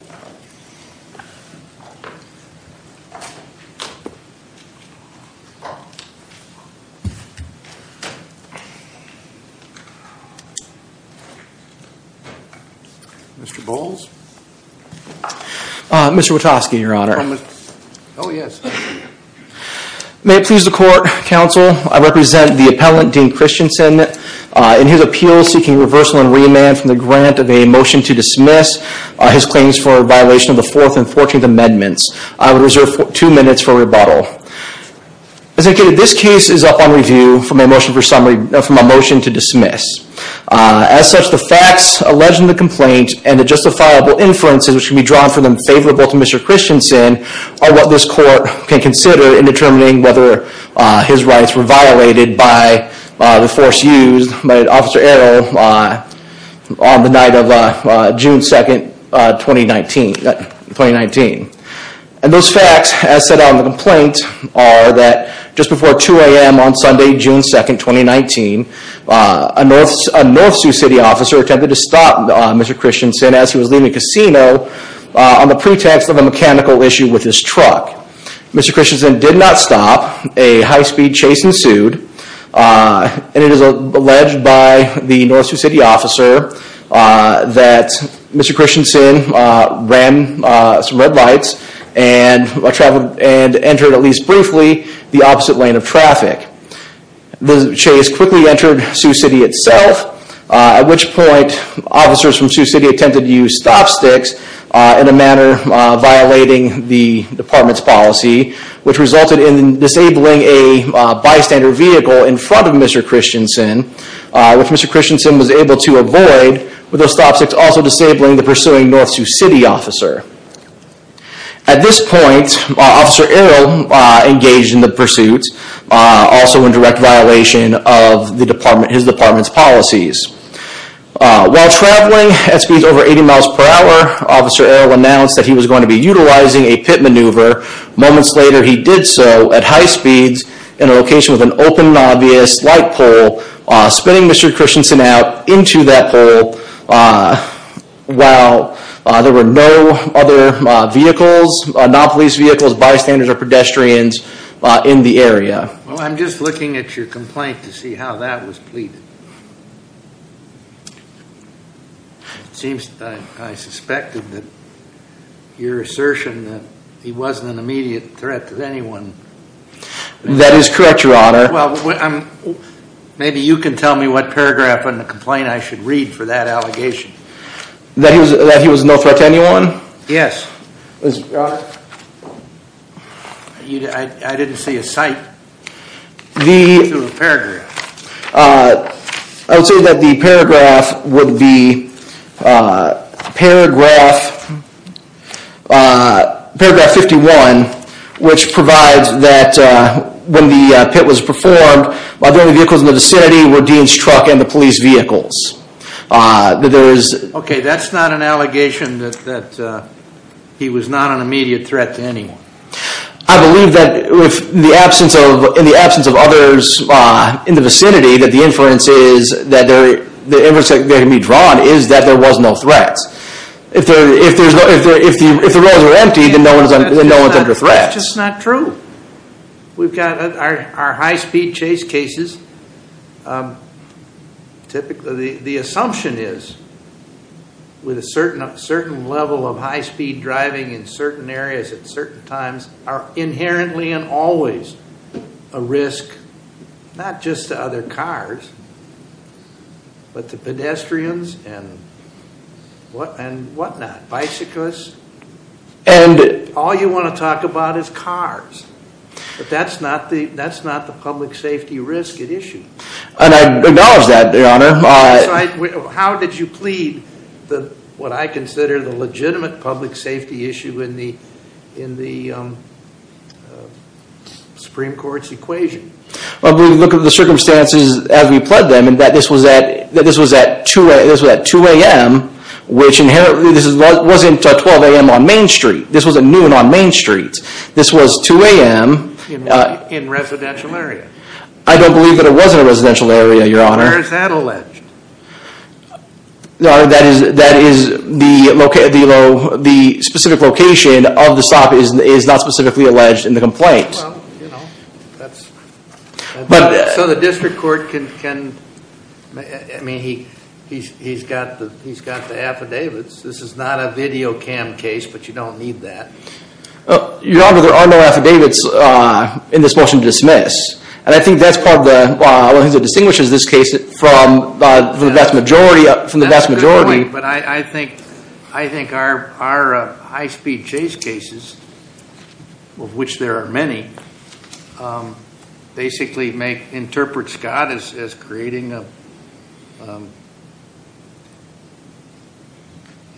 May it please the Court, Counsel, I represent the Appellant, Dean Christiansen, in his appeal seeking reversal and remand from the grant of a motion to dismiss his claims for violation of the fourth and fourteenth amendments. I would reserve two minutes for rebuttal. As indicated, this case is up on review from a motion for summary from a motion to dismiss. As such, the facts alleged in the complaint and the justifiable inferences which can be drawn for them favorable to Mr. Christiansen are what this court can consider in determining whether his force used by Officer Eral on the night of June 2nd, 2019. And those facts as set out in the complaint are that just before 2 a.m. on Sunday, June 2nd, 2019, a North Sioux City officer attempted to stop Mr. Christiansen as he was leaving a casino on the pretext of a mechanical issue with his truck. Mr. alleged by the North Sioux City officer that Mr. Christiansen ran some red lights and entered at least briefly the opposite lane of traffic. The chase quickly entered Sioux City itself, at which point officers from Sioux City attempted to use stop sticks in a manner violating the department's policy which resulted in disabling a bystander vehicle in front of Mr. Christiansen which Mr. Christiansen was able to avoid with those stop sticks also disabling the pursuing North Sioux City officer. At this point, Officer Eral engaged in the pursuit, also in direct violation of the department, his department's policies. While traveling at speeds over 80 miles per hour, Officer Eral announced that he was going to be utilizing a pit maneuver. Moments later he did so at high speeds in a location with an open and obvious light pole, spinning Mr. Christiansen out into that hole while there were no other vehicles, non-police vehicles, bystanders or pedestrians in the area. I'm just looking at your complaint to see how that was pleaded. It seems I suspected that your assertion that he wasn't an That is correct, your honor. Maybe you can tell me what paragraph in the complaint I should read for that allegation. That he was no threat to anyone? Yes. I didn't see a cite. I would say that the paragraph would be paragraph 51, which provides that when the pit was performed, the only vehicles in the vicinity were Dean's truck and the police vehicles. Okay, that's not an allegation that he was not an immediate threat to anyone. I believe that in the absence of others in the vicinity, that the inference that can be drawn is that there was no threat. If the We've got our high-speed chase cases. The assumption is with a certain level of high-speed driving in certain areas at certain times are inherently and always a risk, not just to other cars, but to pedestrians and what not, bicyclists, and all you want to talk about is cars. But that's not the public safety risk at issue. And I acknowledge that, your honor. How did you plead what I consider the legitimate public safety issue in the Supreme Court's equation? Well, we look at the circumstances as we pled them, and that this was at 2 a.m., which wasn't 12 a.m. on Main Street. This was at noon on Main Street. This was 2 a.m. In residential area. I don't believe that it was in a residential area, your honor. Where is that alleged? That is the specific location of the stop is not specifically alleged in the complaint. Well, you know. So the district court can, I mean, he's got the affidavits. This is not a video cam case, but you don't need that. Your honor, there are no affidavits in this motion to dismiss. And I think that's part of the, well, I think it distinguishes this case from the vast majority. That's a good point, but I think our high-speed chase cases, of which there are many, basically make, interpret Scott as creating a,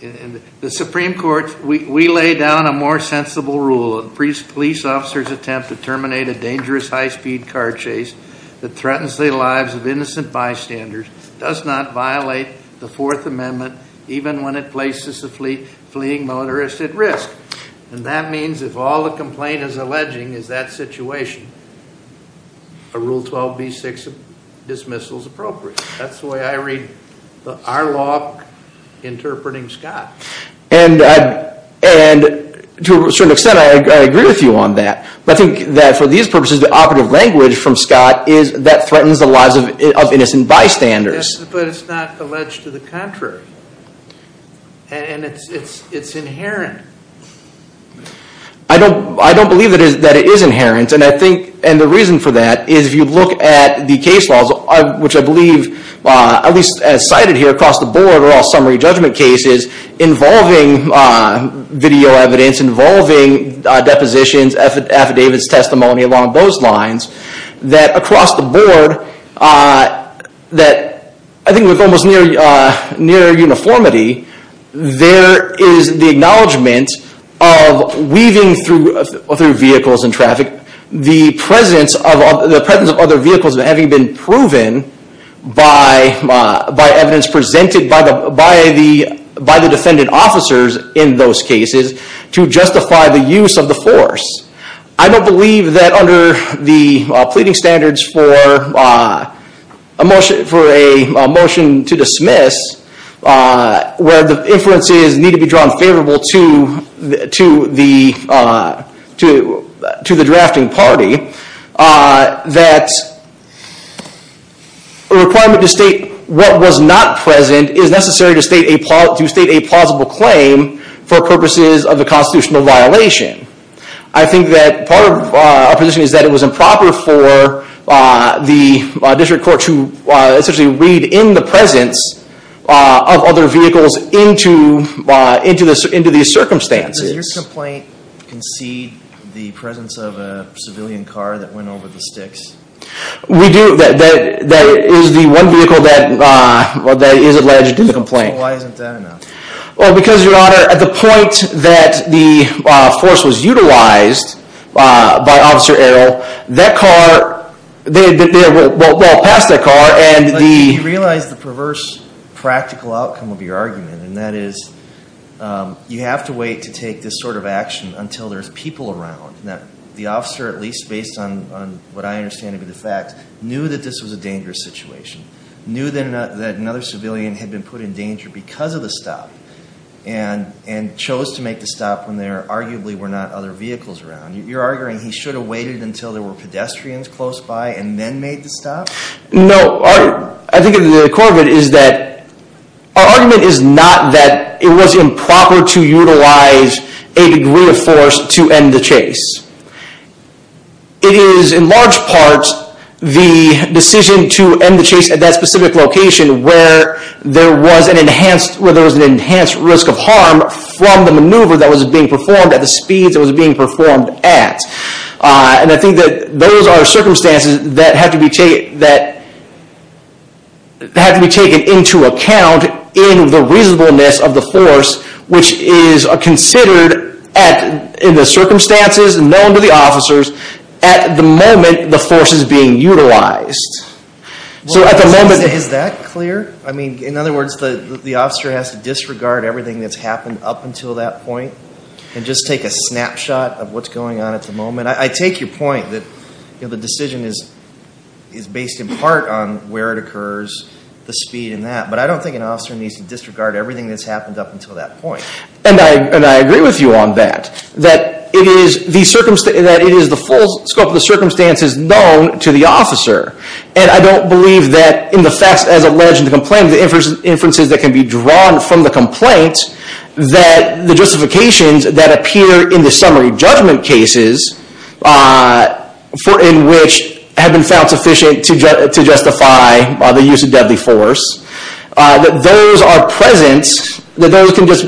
in the Supreme Court, we lay down a more sensible rule. A police officer's attempt to terminate a dangerous high-speed car chase that threatens the lives of innocent bystanders does not And that means if all the complaint is alleging is that situation, a Rule 12b-6 dismissal is appropriate. That's the way I read our law interpreting Scott. And to a certain extent I agree with you on that. But I think that for these purposes the operative language from Scott is that threatens the lives of innocent bystanders. But it's not alleged to the contrary. And it's inherent. I don't believe that it is inherent. And I think, and the reason for that is if you look at the case laws, which I believe, at least as cited here across the board, are all summary judgment cases involving video evidence, involving depositions, affidavits, testimony, along those lines, that across the board, that I think with almost near uniformity, there is the acknowledgment of weaving through vehicles and traffic the presence of other vehicles having been proven by evidence presented by the defendant officers in those cases to justify the use of the force. I don't believe that under the pleading standards for a motion to dismiss, where the inferences need to be drawn favorable to the drafting party, that a requirement to state what was not present is necessary to state a plausible claim for purposes of a constitutional violation. I think that part of our position is that it was improper for the district court to essentially read in the presence of other vehicles into these circumstances. Does your complaint concede the presence of a civilian car that went over the sticks? We do. That is the one vehicle that is alleged in the complaint. Why isn't that enough? Because, your honor, at the point that the force was utilized by Officer Errol, that car, well, past that car, and the... But you realize the perverse practical outcome of your argument, and that is, you have to wait to take this sort of action until there's people around. The officer, at least based on what I understand to be the fact, knew that this was a dangerous situation. Knew that another civilian had been put in danger because of the stop, and chose to make the stop when there, arguably, were not other vehicles around. You're arguing he should have waited until there were pedestrians close by and then made the stop? No. I think the core of it is that our argument is not that it was improper to utilize a degree of force to end the chase. It is, in large part, the decision to end the chase at that specific location where there was an enhanced risk of harm from the maneuver that was being performed at the speeds it was being performed at. I think that those are circumstances that have to be taken into account in the reasonableness of the force, which is considered in the circumstances known to the officers at the moment the force is being utilized. Is that clear? In other words, the officer has to disregard everything that's happened up until that point and just take a snapshot of what's going on at the moment? I take your point that the decision is based in part on where it occurs, the speed, and that, but I don't think an officer needs to disregard everything that's happened up until that point. I agree with you on that. That it is the full scope of the circumstances known to the officer. I don't believe that in the facts as alleged in the complaint, the inferences that can be drawn from the complaint, that the justifications that appear in the summary judgment cases in which have been found sufficient to justify the use of deadly force, that those are present, that those can just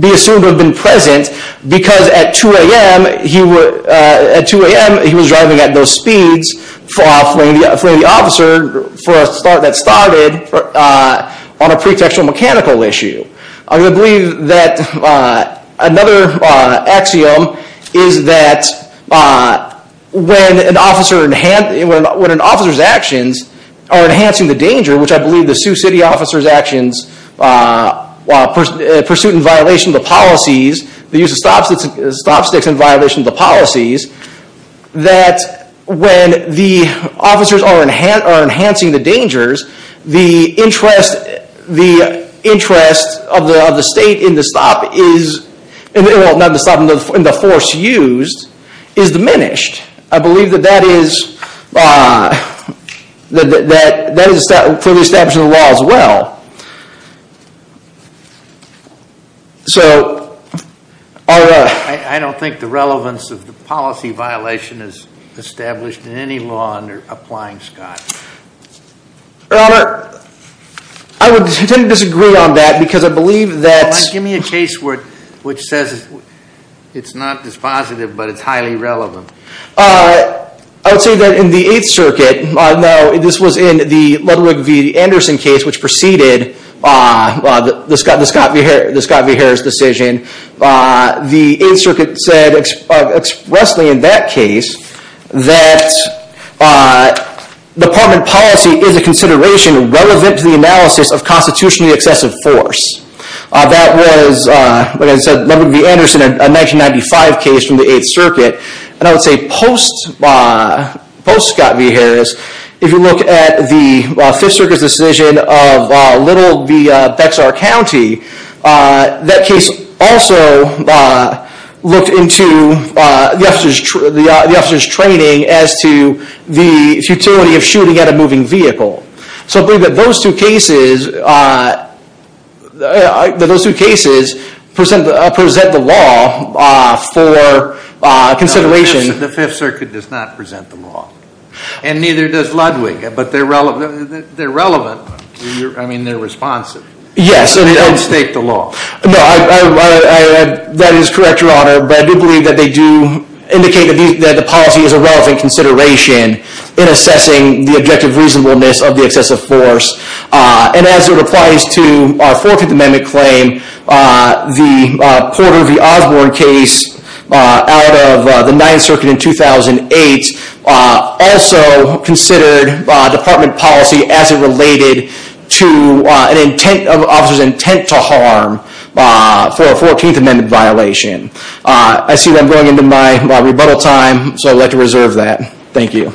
be assumed to have been present because at 2 a.m. he was driving at those speeds for the officer that started on a pretextual mechanical issue. I believe that another axiom is that when an officer's actions are enhancing the danger, which I believe the Sioux City officer's actions, pursuit in violation of the policies, the use of stop sticks in violation of the policies, that when the officers are enhancing the dangers, the interest of the state in the force used is diminished. I believe that that is for the establishment of the law as well. I don't think the relevance of the policy violation is established in any law under applying Scott. I would disagree on that because I believe that... which says it's not dispositive, but it's highly relevant. I would say that in the 8th Circuit, this was in the Ludwig v. Anderson case which preceded the Scott v. Harris decision, the 8th Circuit said expressly in that case that department policy is a consideration relevant to the analysis of constitutionally excessive force. That was, like I said, Ludwig v. Anderson, a 1995 case from the 8th Circuit, and I would say post Scott v. Harris, if you look at the 5th Circuit's decision of Little v. Bexar County, that case also looked into the officer's training as to the futility of shooting at a moving vehicle. So I believe that those two cases present the law for consideration. The 5th Circuit does not present the law, and neither does Ludwig, but they're relevant, I mean they're responsive. Yes. They don't stake the law. No, that is correct, Your Honor, but I do believe that they do indicate that the policy is a relevant consideration in assessing the objective reasonableness of the excessive force. And as it applies to our 14th Amendment claim, the Porter v. Osborne case out of the 9th Circuit in 2008 also considered department policy as it related to an officer's intent to harm for a 14th Amendment violation. I see that I'm going into my rebuttal time, so I'd like to reserve that. Thank you.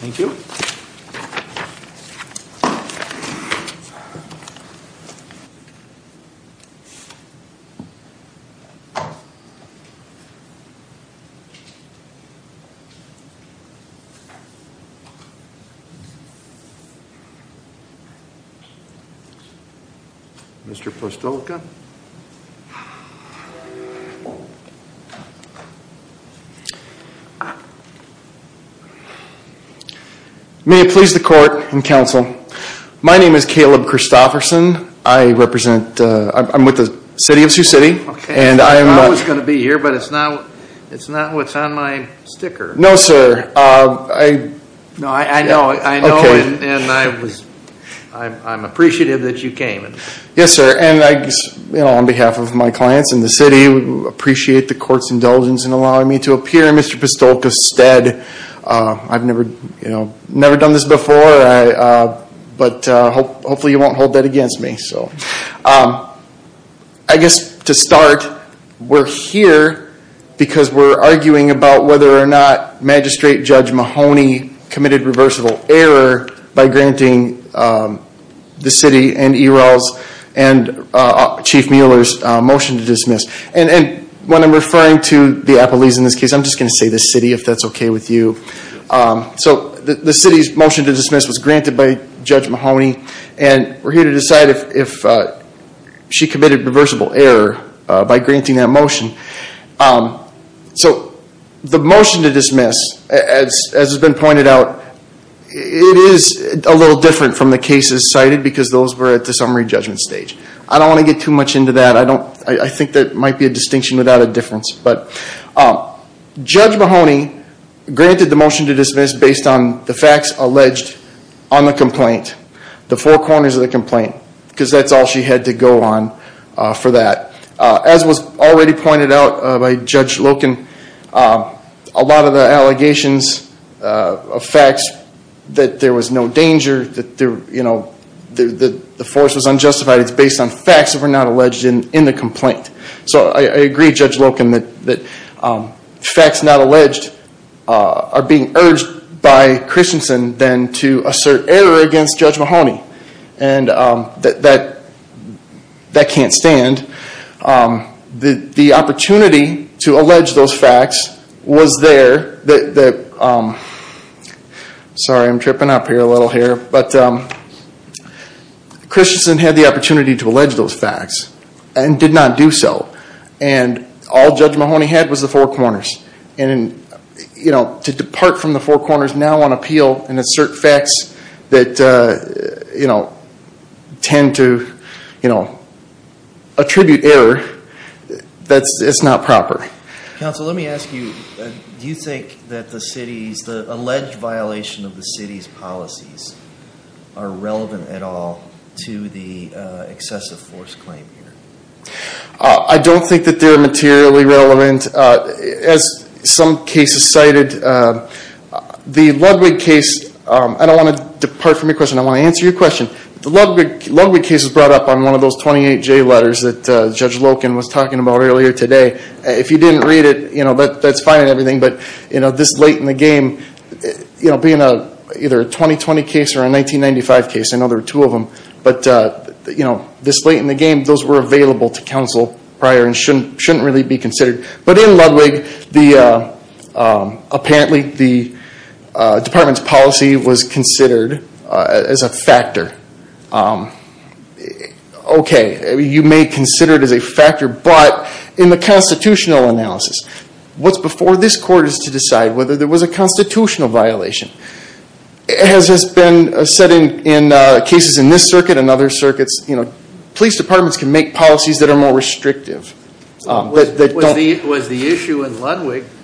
Thank you. Mr. Postolica. May it please the Court and Counsel, my name is Caleb Christofferson, I'm with the City of Sioux City. Okay, I thought I was going to be here, but it's not what's on my sticker. No, sir. No, I know, I know, and I'm appreciative that you came. Yes, sir. And on behalf of my clients and the City, we appreciate the Court's indulgence in allowing me to appear. Mr. Postolica, instead, I've never done this before, but hopefully you won't hold that against me. I guess to start, we're here because we're arguing about whether or not Magistrate Judge Mahoney committed reversible error by granting the City and ERLs and Chief Mueller's motion to dismiss. And when I'm referring to the appellees in this case, I'm just going to say the City, if that's okay with you. So the City's motion to dismiss was granted by Judge Mahoney, and we're here to decide if she committed reversible error by granting that motion. So the motion to dismiss, as has been pointed out, it is a little different from the cases cited because those were at the summary judgment stage. I don't want to get too much into that. I think that might be a distinction without a difference. But Judge Mahoney granted the motion to dismiss based on the facts alleged on the complaint, the four corners of the complaint, because that's all she had to go on for that. As was already pointed out by Judge Loken, a lot of the allegations of facts that there was no danger, that the force was unjustified, it's based on facts that were not alleged in the complaint. So I agree, Judge Loken, that facts not alleged are being urged by Christensen then to assert error against Judge Mahoney. And that can't stand. The opportunity to allege those facts was there that – sorry, I'm tripping up here a little here – but Christensen had the opportunity to allege those facts and did not do so. And all Judge Mahoney had was the four corners. And to depart from the four corners now on appeal and assert facts that tend to attribute error, that's not proper. Counsel, let me ask you, do you think that the alleged violation of the city's policies are relevant at all to the excessive force claim here? I don't think that they're materially relevant. As some cases cited, the Ludwig case – I don't want to depart from your question, I want to answer your question. The Ludwig case was brought up on one of those 28J letters that Judge Loken was talking about earlier today. If you didn't read it, that's fine and everything, but this late in the game, being either a 2020 case or a 1995 case – I know there were two of them – but this late in the game. But in Ludwig, apparently the department's policy was considered as a factor. Okay, you may consider it as a factor, but in the constitutional analysis, what's before this court is to decide whether there was a constitutional violation. As has been said in cases in this circuit and other circuits, police departments can make policies that are more restrictive. Was the issue in Ludwig –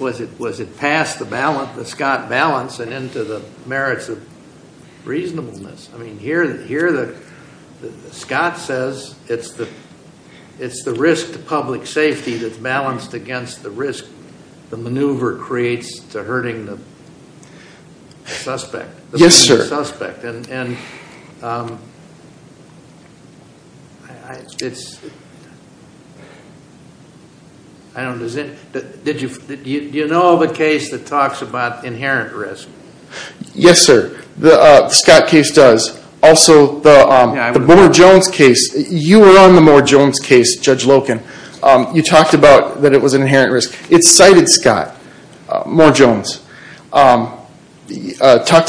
was it past the Scott balance and into the merits of reasonableness? I mean, here Scott says it's the risk to public safety that's balanced against the risk the maneuver creates to hurting the suspect. Yes, sir. Do you know of a case that talks about inherent risk? Yes, sir. The Scott case does. Also the Moore-Jones case. You were on the Moore-Jones case, Judge Loken. You talked about that it was an inherent risk. It cited Scott, Moore-Jones. Talked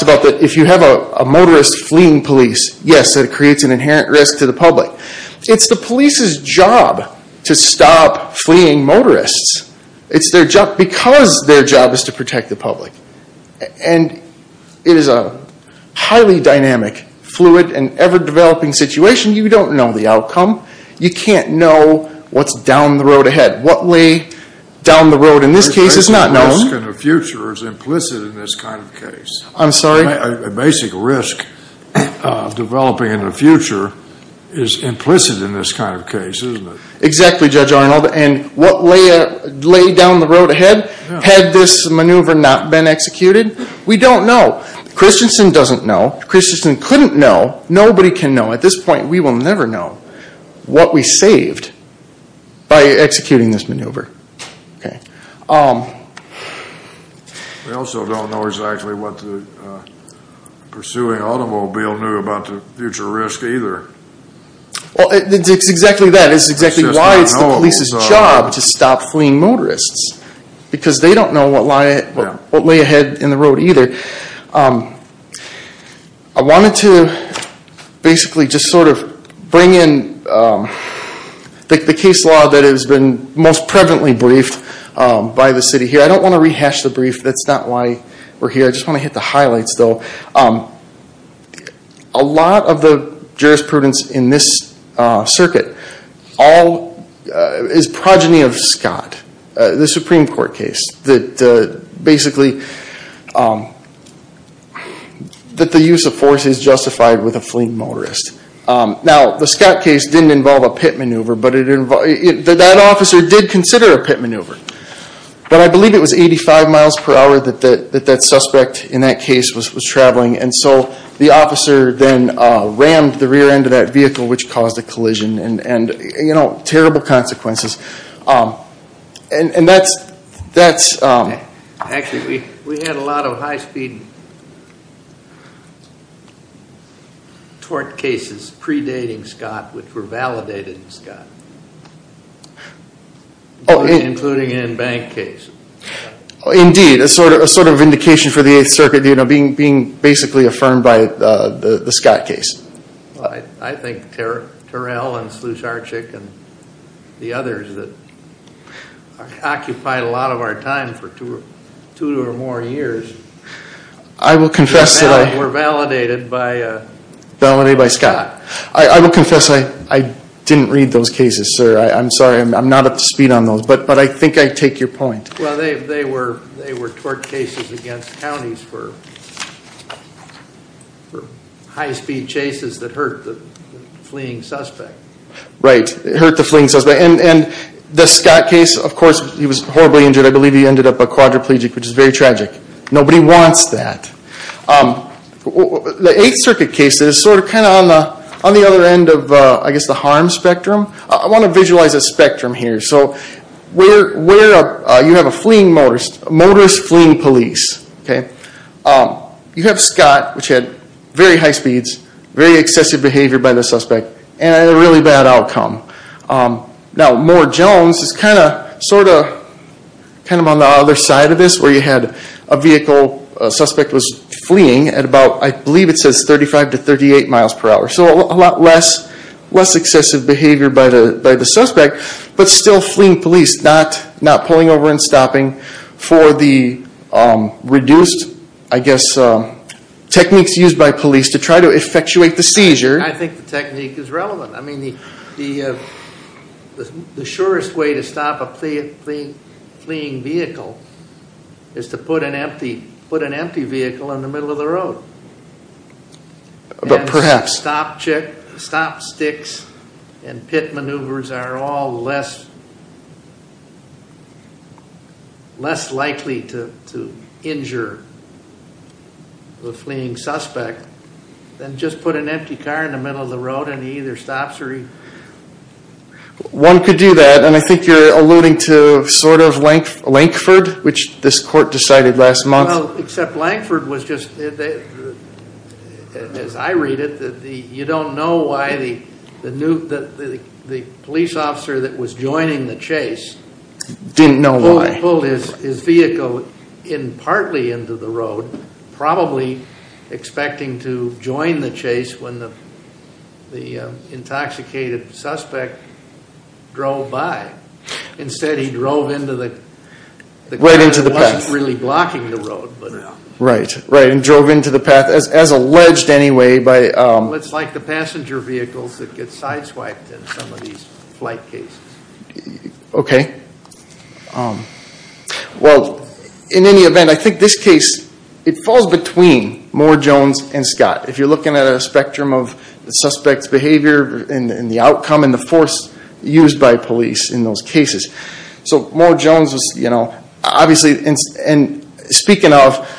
about that if you have a motorist fleeing police, yes, it creates an inherent risk to the public. It's the police's job to stop fleeing motorists. It's their job – because their job is to protect the public. And it is a highly dynamic, fluid, and ever-developing situation. You don't know the outcome. You can't know what's down the road ahead. What way down the road in this case is not known. A basic risk in the future is implicit in this kind of case. I'm sorry? A basic risk developing in the future is implicit in this kind of case, isn't it? Exactly, Judge Arnold. And what lay down the road ahead had this maneuver not been executed, we don't know. Christensen doesn't know. Christensen couldn't know. Nobody can know. At this point, we will never know what we saved by executing this maneuver. We also don't know exactly what the pursuing automobile knew about the future risk either. It's exactly that. It's exactly why it's the police's job to stop fleeing motorists. Because they don't know what lay ahead in the road either. I wanted to basically just sort of bring in the case law that has been most prevalently briefed by the city here. I don't want to rehash the brief. That's not why we're here. I just want to hit the highlights though. A lot of the jurisprudence in this circuit is progeny of Scott. The Supreme Court case that basically that the use of force is justified with a fleeing motorist. Now, the Scott case didn't involve a pit maneuver, but that officer did consider a pit maneuver. But I believe it was 85 miles per hour that that suspect in that case was traveling. And so the officer then rammed the rear end of that vehicle, which caused a collision and terrible consequences. And that's... Actually, we had a lot of high speed tort cases predating Scott, which were validated in Scott, including an in-bank case. Indeed. A sort of indication for the 8th Circuit being basically affirmed by the Scott case. I think Terrell and Sluice Archick and the others that occupied a lot of our time for two or more years were validated by Scott. I will confess I didn't read those cases, sir. I'm sorry. I'm not up to speed on those, but I think I take your point. Well, they were tort cases against counties for high speed chases that hurt the fleeing suspect. Right. It hurt the fleeing suspect. And the Scott case, of course, he was horribly injured. I believe he ended up a quadriplegic, which is very tragic. Nobody wants that. The 8th Circuit case is sort of kind of on the other end of, I guess, the harm spectrum. I want to visualize a spectrum here. So you have a fleeing motorist, a motorist fleeing police. You have Scott, which had very high speeds, very excessive behavior by the suspect, and a really bad outcome. Now Moore-Jones is kind of on the other side of this, where you had a vehicle, a suspect was fleeing at about, I believe it says 35 to 38 miles per hour. So a lot less excessive behavior by the suspect, but still fleeing police, not pulling over and stopping for the reduced, I guess, techniques used by police to try to effectuate the seizure. I think the technique is relevant. I mean, the surest way to stop a fleeing vehicle is to put an empty vehicle in the middle of the road. But perhaps. If all stop sticks and pit maneuvers are all less likely to injure the fleeing suspect, then just put an empty car in the middle of the road and he either stops or he. One could do that, and I think you're alluding to sort of Lankford, which this court decided last month. Well, except Lankford was just, as I read it, you don't know why the police officer that was joining the chase. Didn't know why. Pulled his vehicle in partly into the road, probably expecting to join the chase when the intoxicated suspect drove by. Instead he drove into the. Right into the path. He wasn't really blocking the road, but. Right. And drove into the path, as alleged anyway. It's like the passenger vehicles that get sideswiped in some of these flight cases. Okay. Well, in any event, I think this case, it falls between Moore, Jones and Scott. If you're looking at a spectrum of the suspect's behavior and the outcome and the force used by police in those cases. So Moore, Jones was, you know, obviously, and speaking of,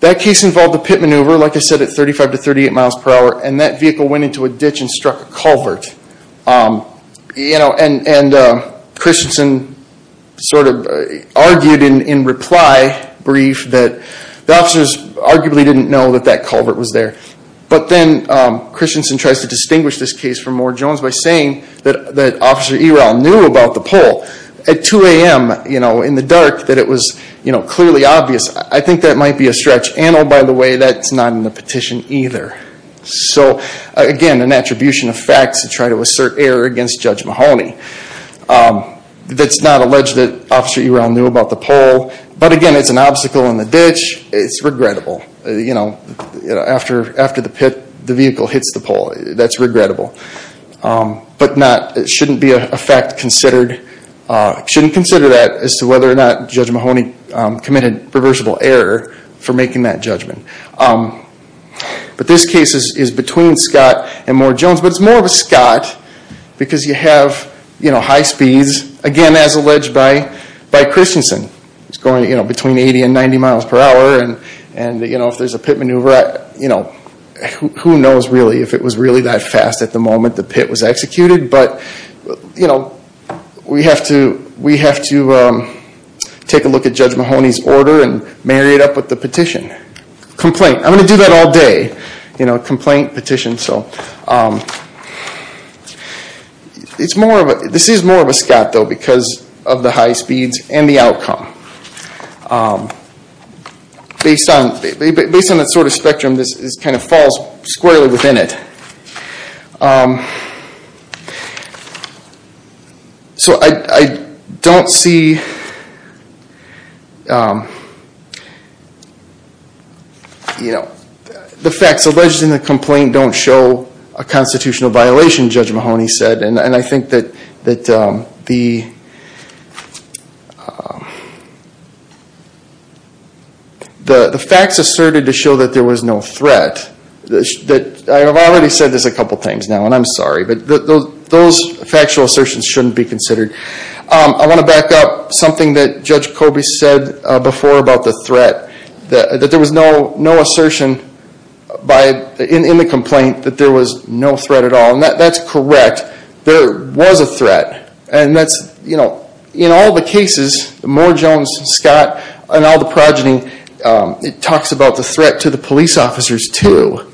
that case involved a pit maneuver, like I said, at 35 to 38 miles per hour, and that vehicle went into a ditch and struck a culvert. You know, and Christensen sort of argued in reply brief that the officers arguably didn't know that that culvert was there. But then Christensen tries to distinguish this case from Moore, Jones by saying that Officer Eral knew about the pole at 2 a.m., you know, in the dark, that it was clearly obvious. I think that might be a stretch. And, oh, by the way, that's not in the petition either. So again, an attribution of facts to try to assert error against Judge Mahoney. That's not alleged that Officer Eral knew about the pole, but again, it's an obstacle in the ditch. It's regrettable. You know, after the pit, the vehicle hits the pole. That's regrettable. But not, it shouldn't be a fact considered, shouldn't consider that as to whether or not Judge Mahoney committed reversible error for making that judgment. But this case is between Scott and Moore, Jones, but it's more of a Scott because you have, you know, high speeds, again, as alleged by Christensen. It's going, you know, between 80 and 90 miles per hour and, you know, if there's a pit maneuver, you know, who knows really if it was really that fast at the moment the pit was executed. But, you know, we have to, we have to take a look at Judge Mahoney's order and marry it up with the petition. Complaint. I'm going to do that all day. You know, complaint, petition, so. It's more of a, this is more of a Scott though because of the high speeds and the outcome. Based on, based on that sort of spectrum, this kind of falls squarely within it. So I don't see, you know, the facts alleged in the complaint don't show a constitutional violation, Judge Mahoney said, and I think that the, the facts asserted to show that there was no threat, that, I've already said this a couple of times now and I'm sorry, but those factual assertions shouldn't be considered. I want to back up something that Judge Kobe said before about the threat, that there was no, no assertion by, in the complaint that there was no threat at all and that's correct. There was a threat and that's, you know, in all the cases, Moore, Jones, Scott, and all the progeny, it talks about the threat to the police officers too,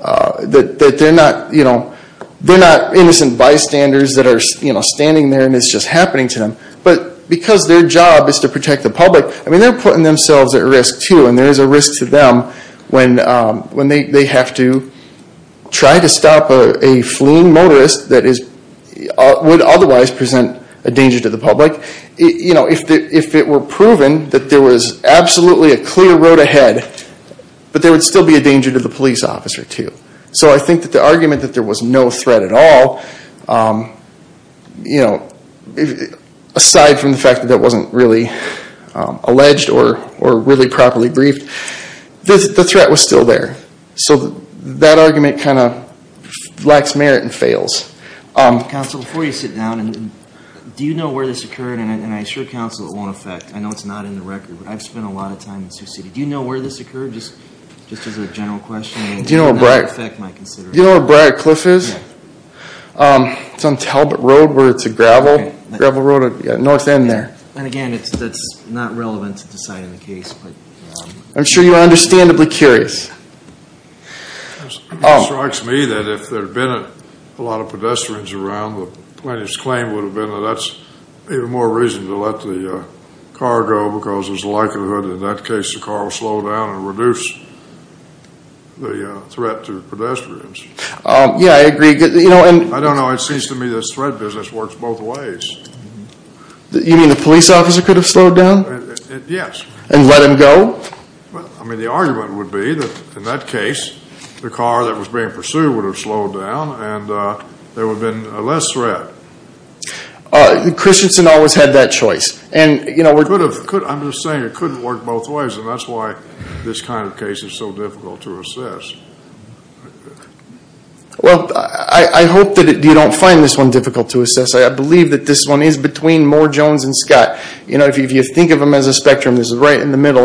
that they're not, you know, they're not innocent bystanders that are, you know, standing there and it's just happening to them. But because their job is to protect the public, I mean, they're putting themselves at risk too and there is a risk to them when, when they have to try to stop a fleeing motorist that is, would otherwise present a danger to the public. You know, if it were proven that there was absolutely a clear road ahead, but there would still be a danger to the police officer too. So I think that the argument that there was no threat at all, you know, aside from the allegedly alleged or really properly briefed, the threat was still there. So that argument kind of lacks merit and fails. Counsel, before you sit down, do you know where this occurred and I assure counsel it won't affect, I know it's not in the record, but I've spent a lot of time in Sioux City. Do you know where this occurred, just as a general question? Do you know where Briar Cliff is? It's on Talbot Road where it's a gravel road, north end there. And again, that's not relevant to deciding the case, but I'm sure you're understandably curious. It strikes me that if there had been a lot of pedestrians around, the plaintiff's claim would have been that that's even more reason to let the car go because there's a likelihood in that case the car will slow down and reduce the threat to pedestrians. Yeah, I agree. I don't know. It seems to me this threat business works both ways. You mean the police officer could have slowed down? Yes. And let him go? Well, I mean the argument would be that in that case the car that was being pursued would have slowed down and there would have been less threat. Christensen always had that choice. I'm just saying it couldn't work both ways and that's why this kind of case is so difficult to assess. Well, I hope that you don't find this one difficult to assess. I believe that this one is between Moore, Jones, and Scott. If you think of them as a spectrum, this is right in the middle.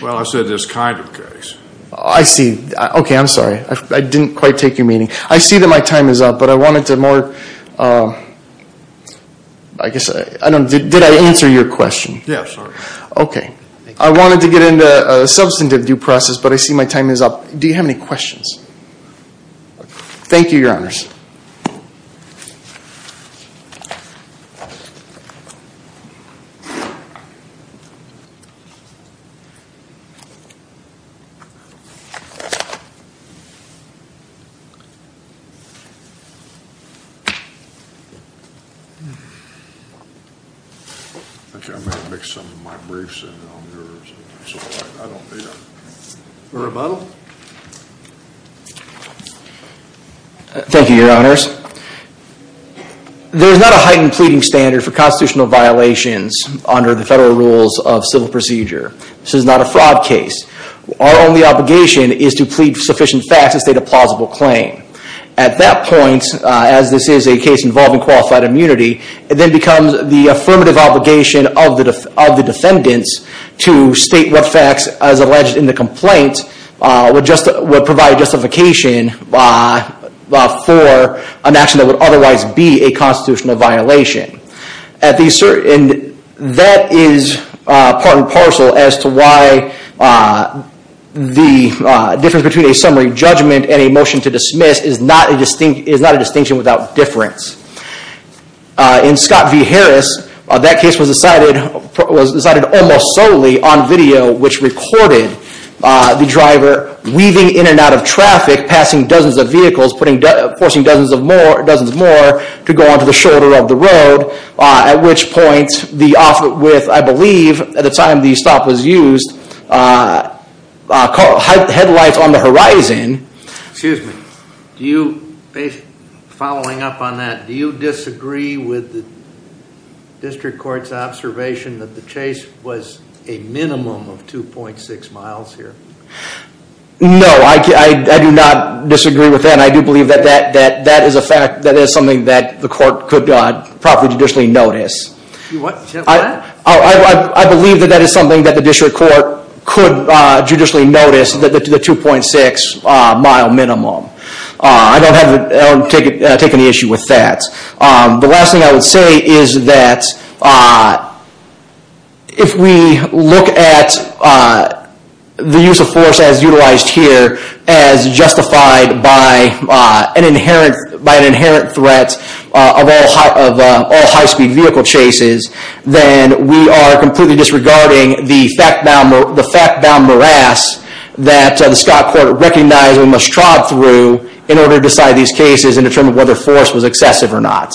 Well, I said this kind of case. I see. Okay, I'm sorry. I didn't quite take your meaning. I see that my time is up, but I wanted to more, I guess, did I answer your question? Yeah, sorry. Okay. I wanted to get into a substantive due process, but I see my time is up. Do you have any questions? Thank you, Your Honors. Okay, I'm going to make some of my briefs and I don't need them. A rebuttal? Thank you, Your Honors. There's not a heightened pleading standard for constitutional violations under the federal rules of civil procedure. This is not a fraud case. Our only obligation is to plead sufficient facts to state a plausible claim. At that point, as this is a case involving qualified immunity, it then becomes the affirmative obligation of the defendants to state what facts, as alleged in the complaint, would provide justification for an action that would otherwise be a constitutional violation. And that is part and parcel as to why the difference between a summary judgment and a motion to dismiss is not a distinction without difference. In Scott v. Harris, that case was decided almost solely on video, which recorded the officer getting out of traffic, passing dozens of vehicles, forcing dozens more to go onto the shoulder of the road, at which point the officer with, I believe, at the time the stop was used, headlights on the horizon. Excuse me, following up on that, do you disagree with the district court's observation that the chase was a minimum of 2.6 miles here? No, I do not disagree with that. I do believe that that is something that the court could properly judicially notice. I believe that that is something that the district court could judicially notice, the 2.6 mile minimum. I don't take any issue with that. The last thing I would say is that if we look at the use of force as utilized here, as justified by an inherent threat of all high speed vehicle chases, then we are completely disregarding the fact-bound morass that the Scott court recognized that we must trod through in order to decide these cases and determine whether force was excessive or not.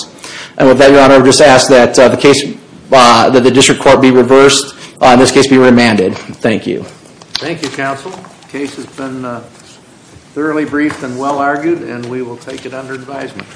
With that, your honor, I would just ask that the district court be reversed, in this case be remanded. Thank you. Thank you, counsel. The case has been thoroughly briefed and well argued and we will take it under advisement.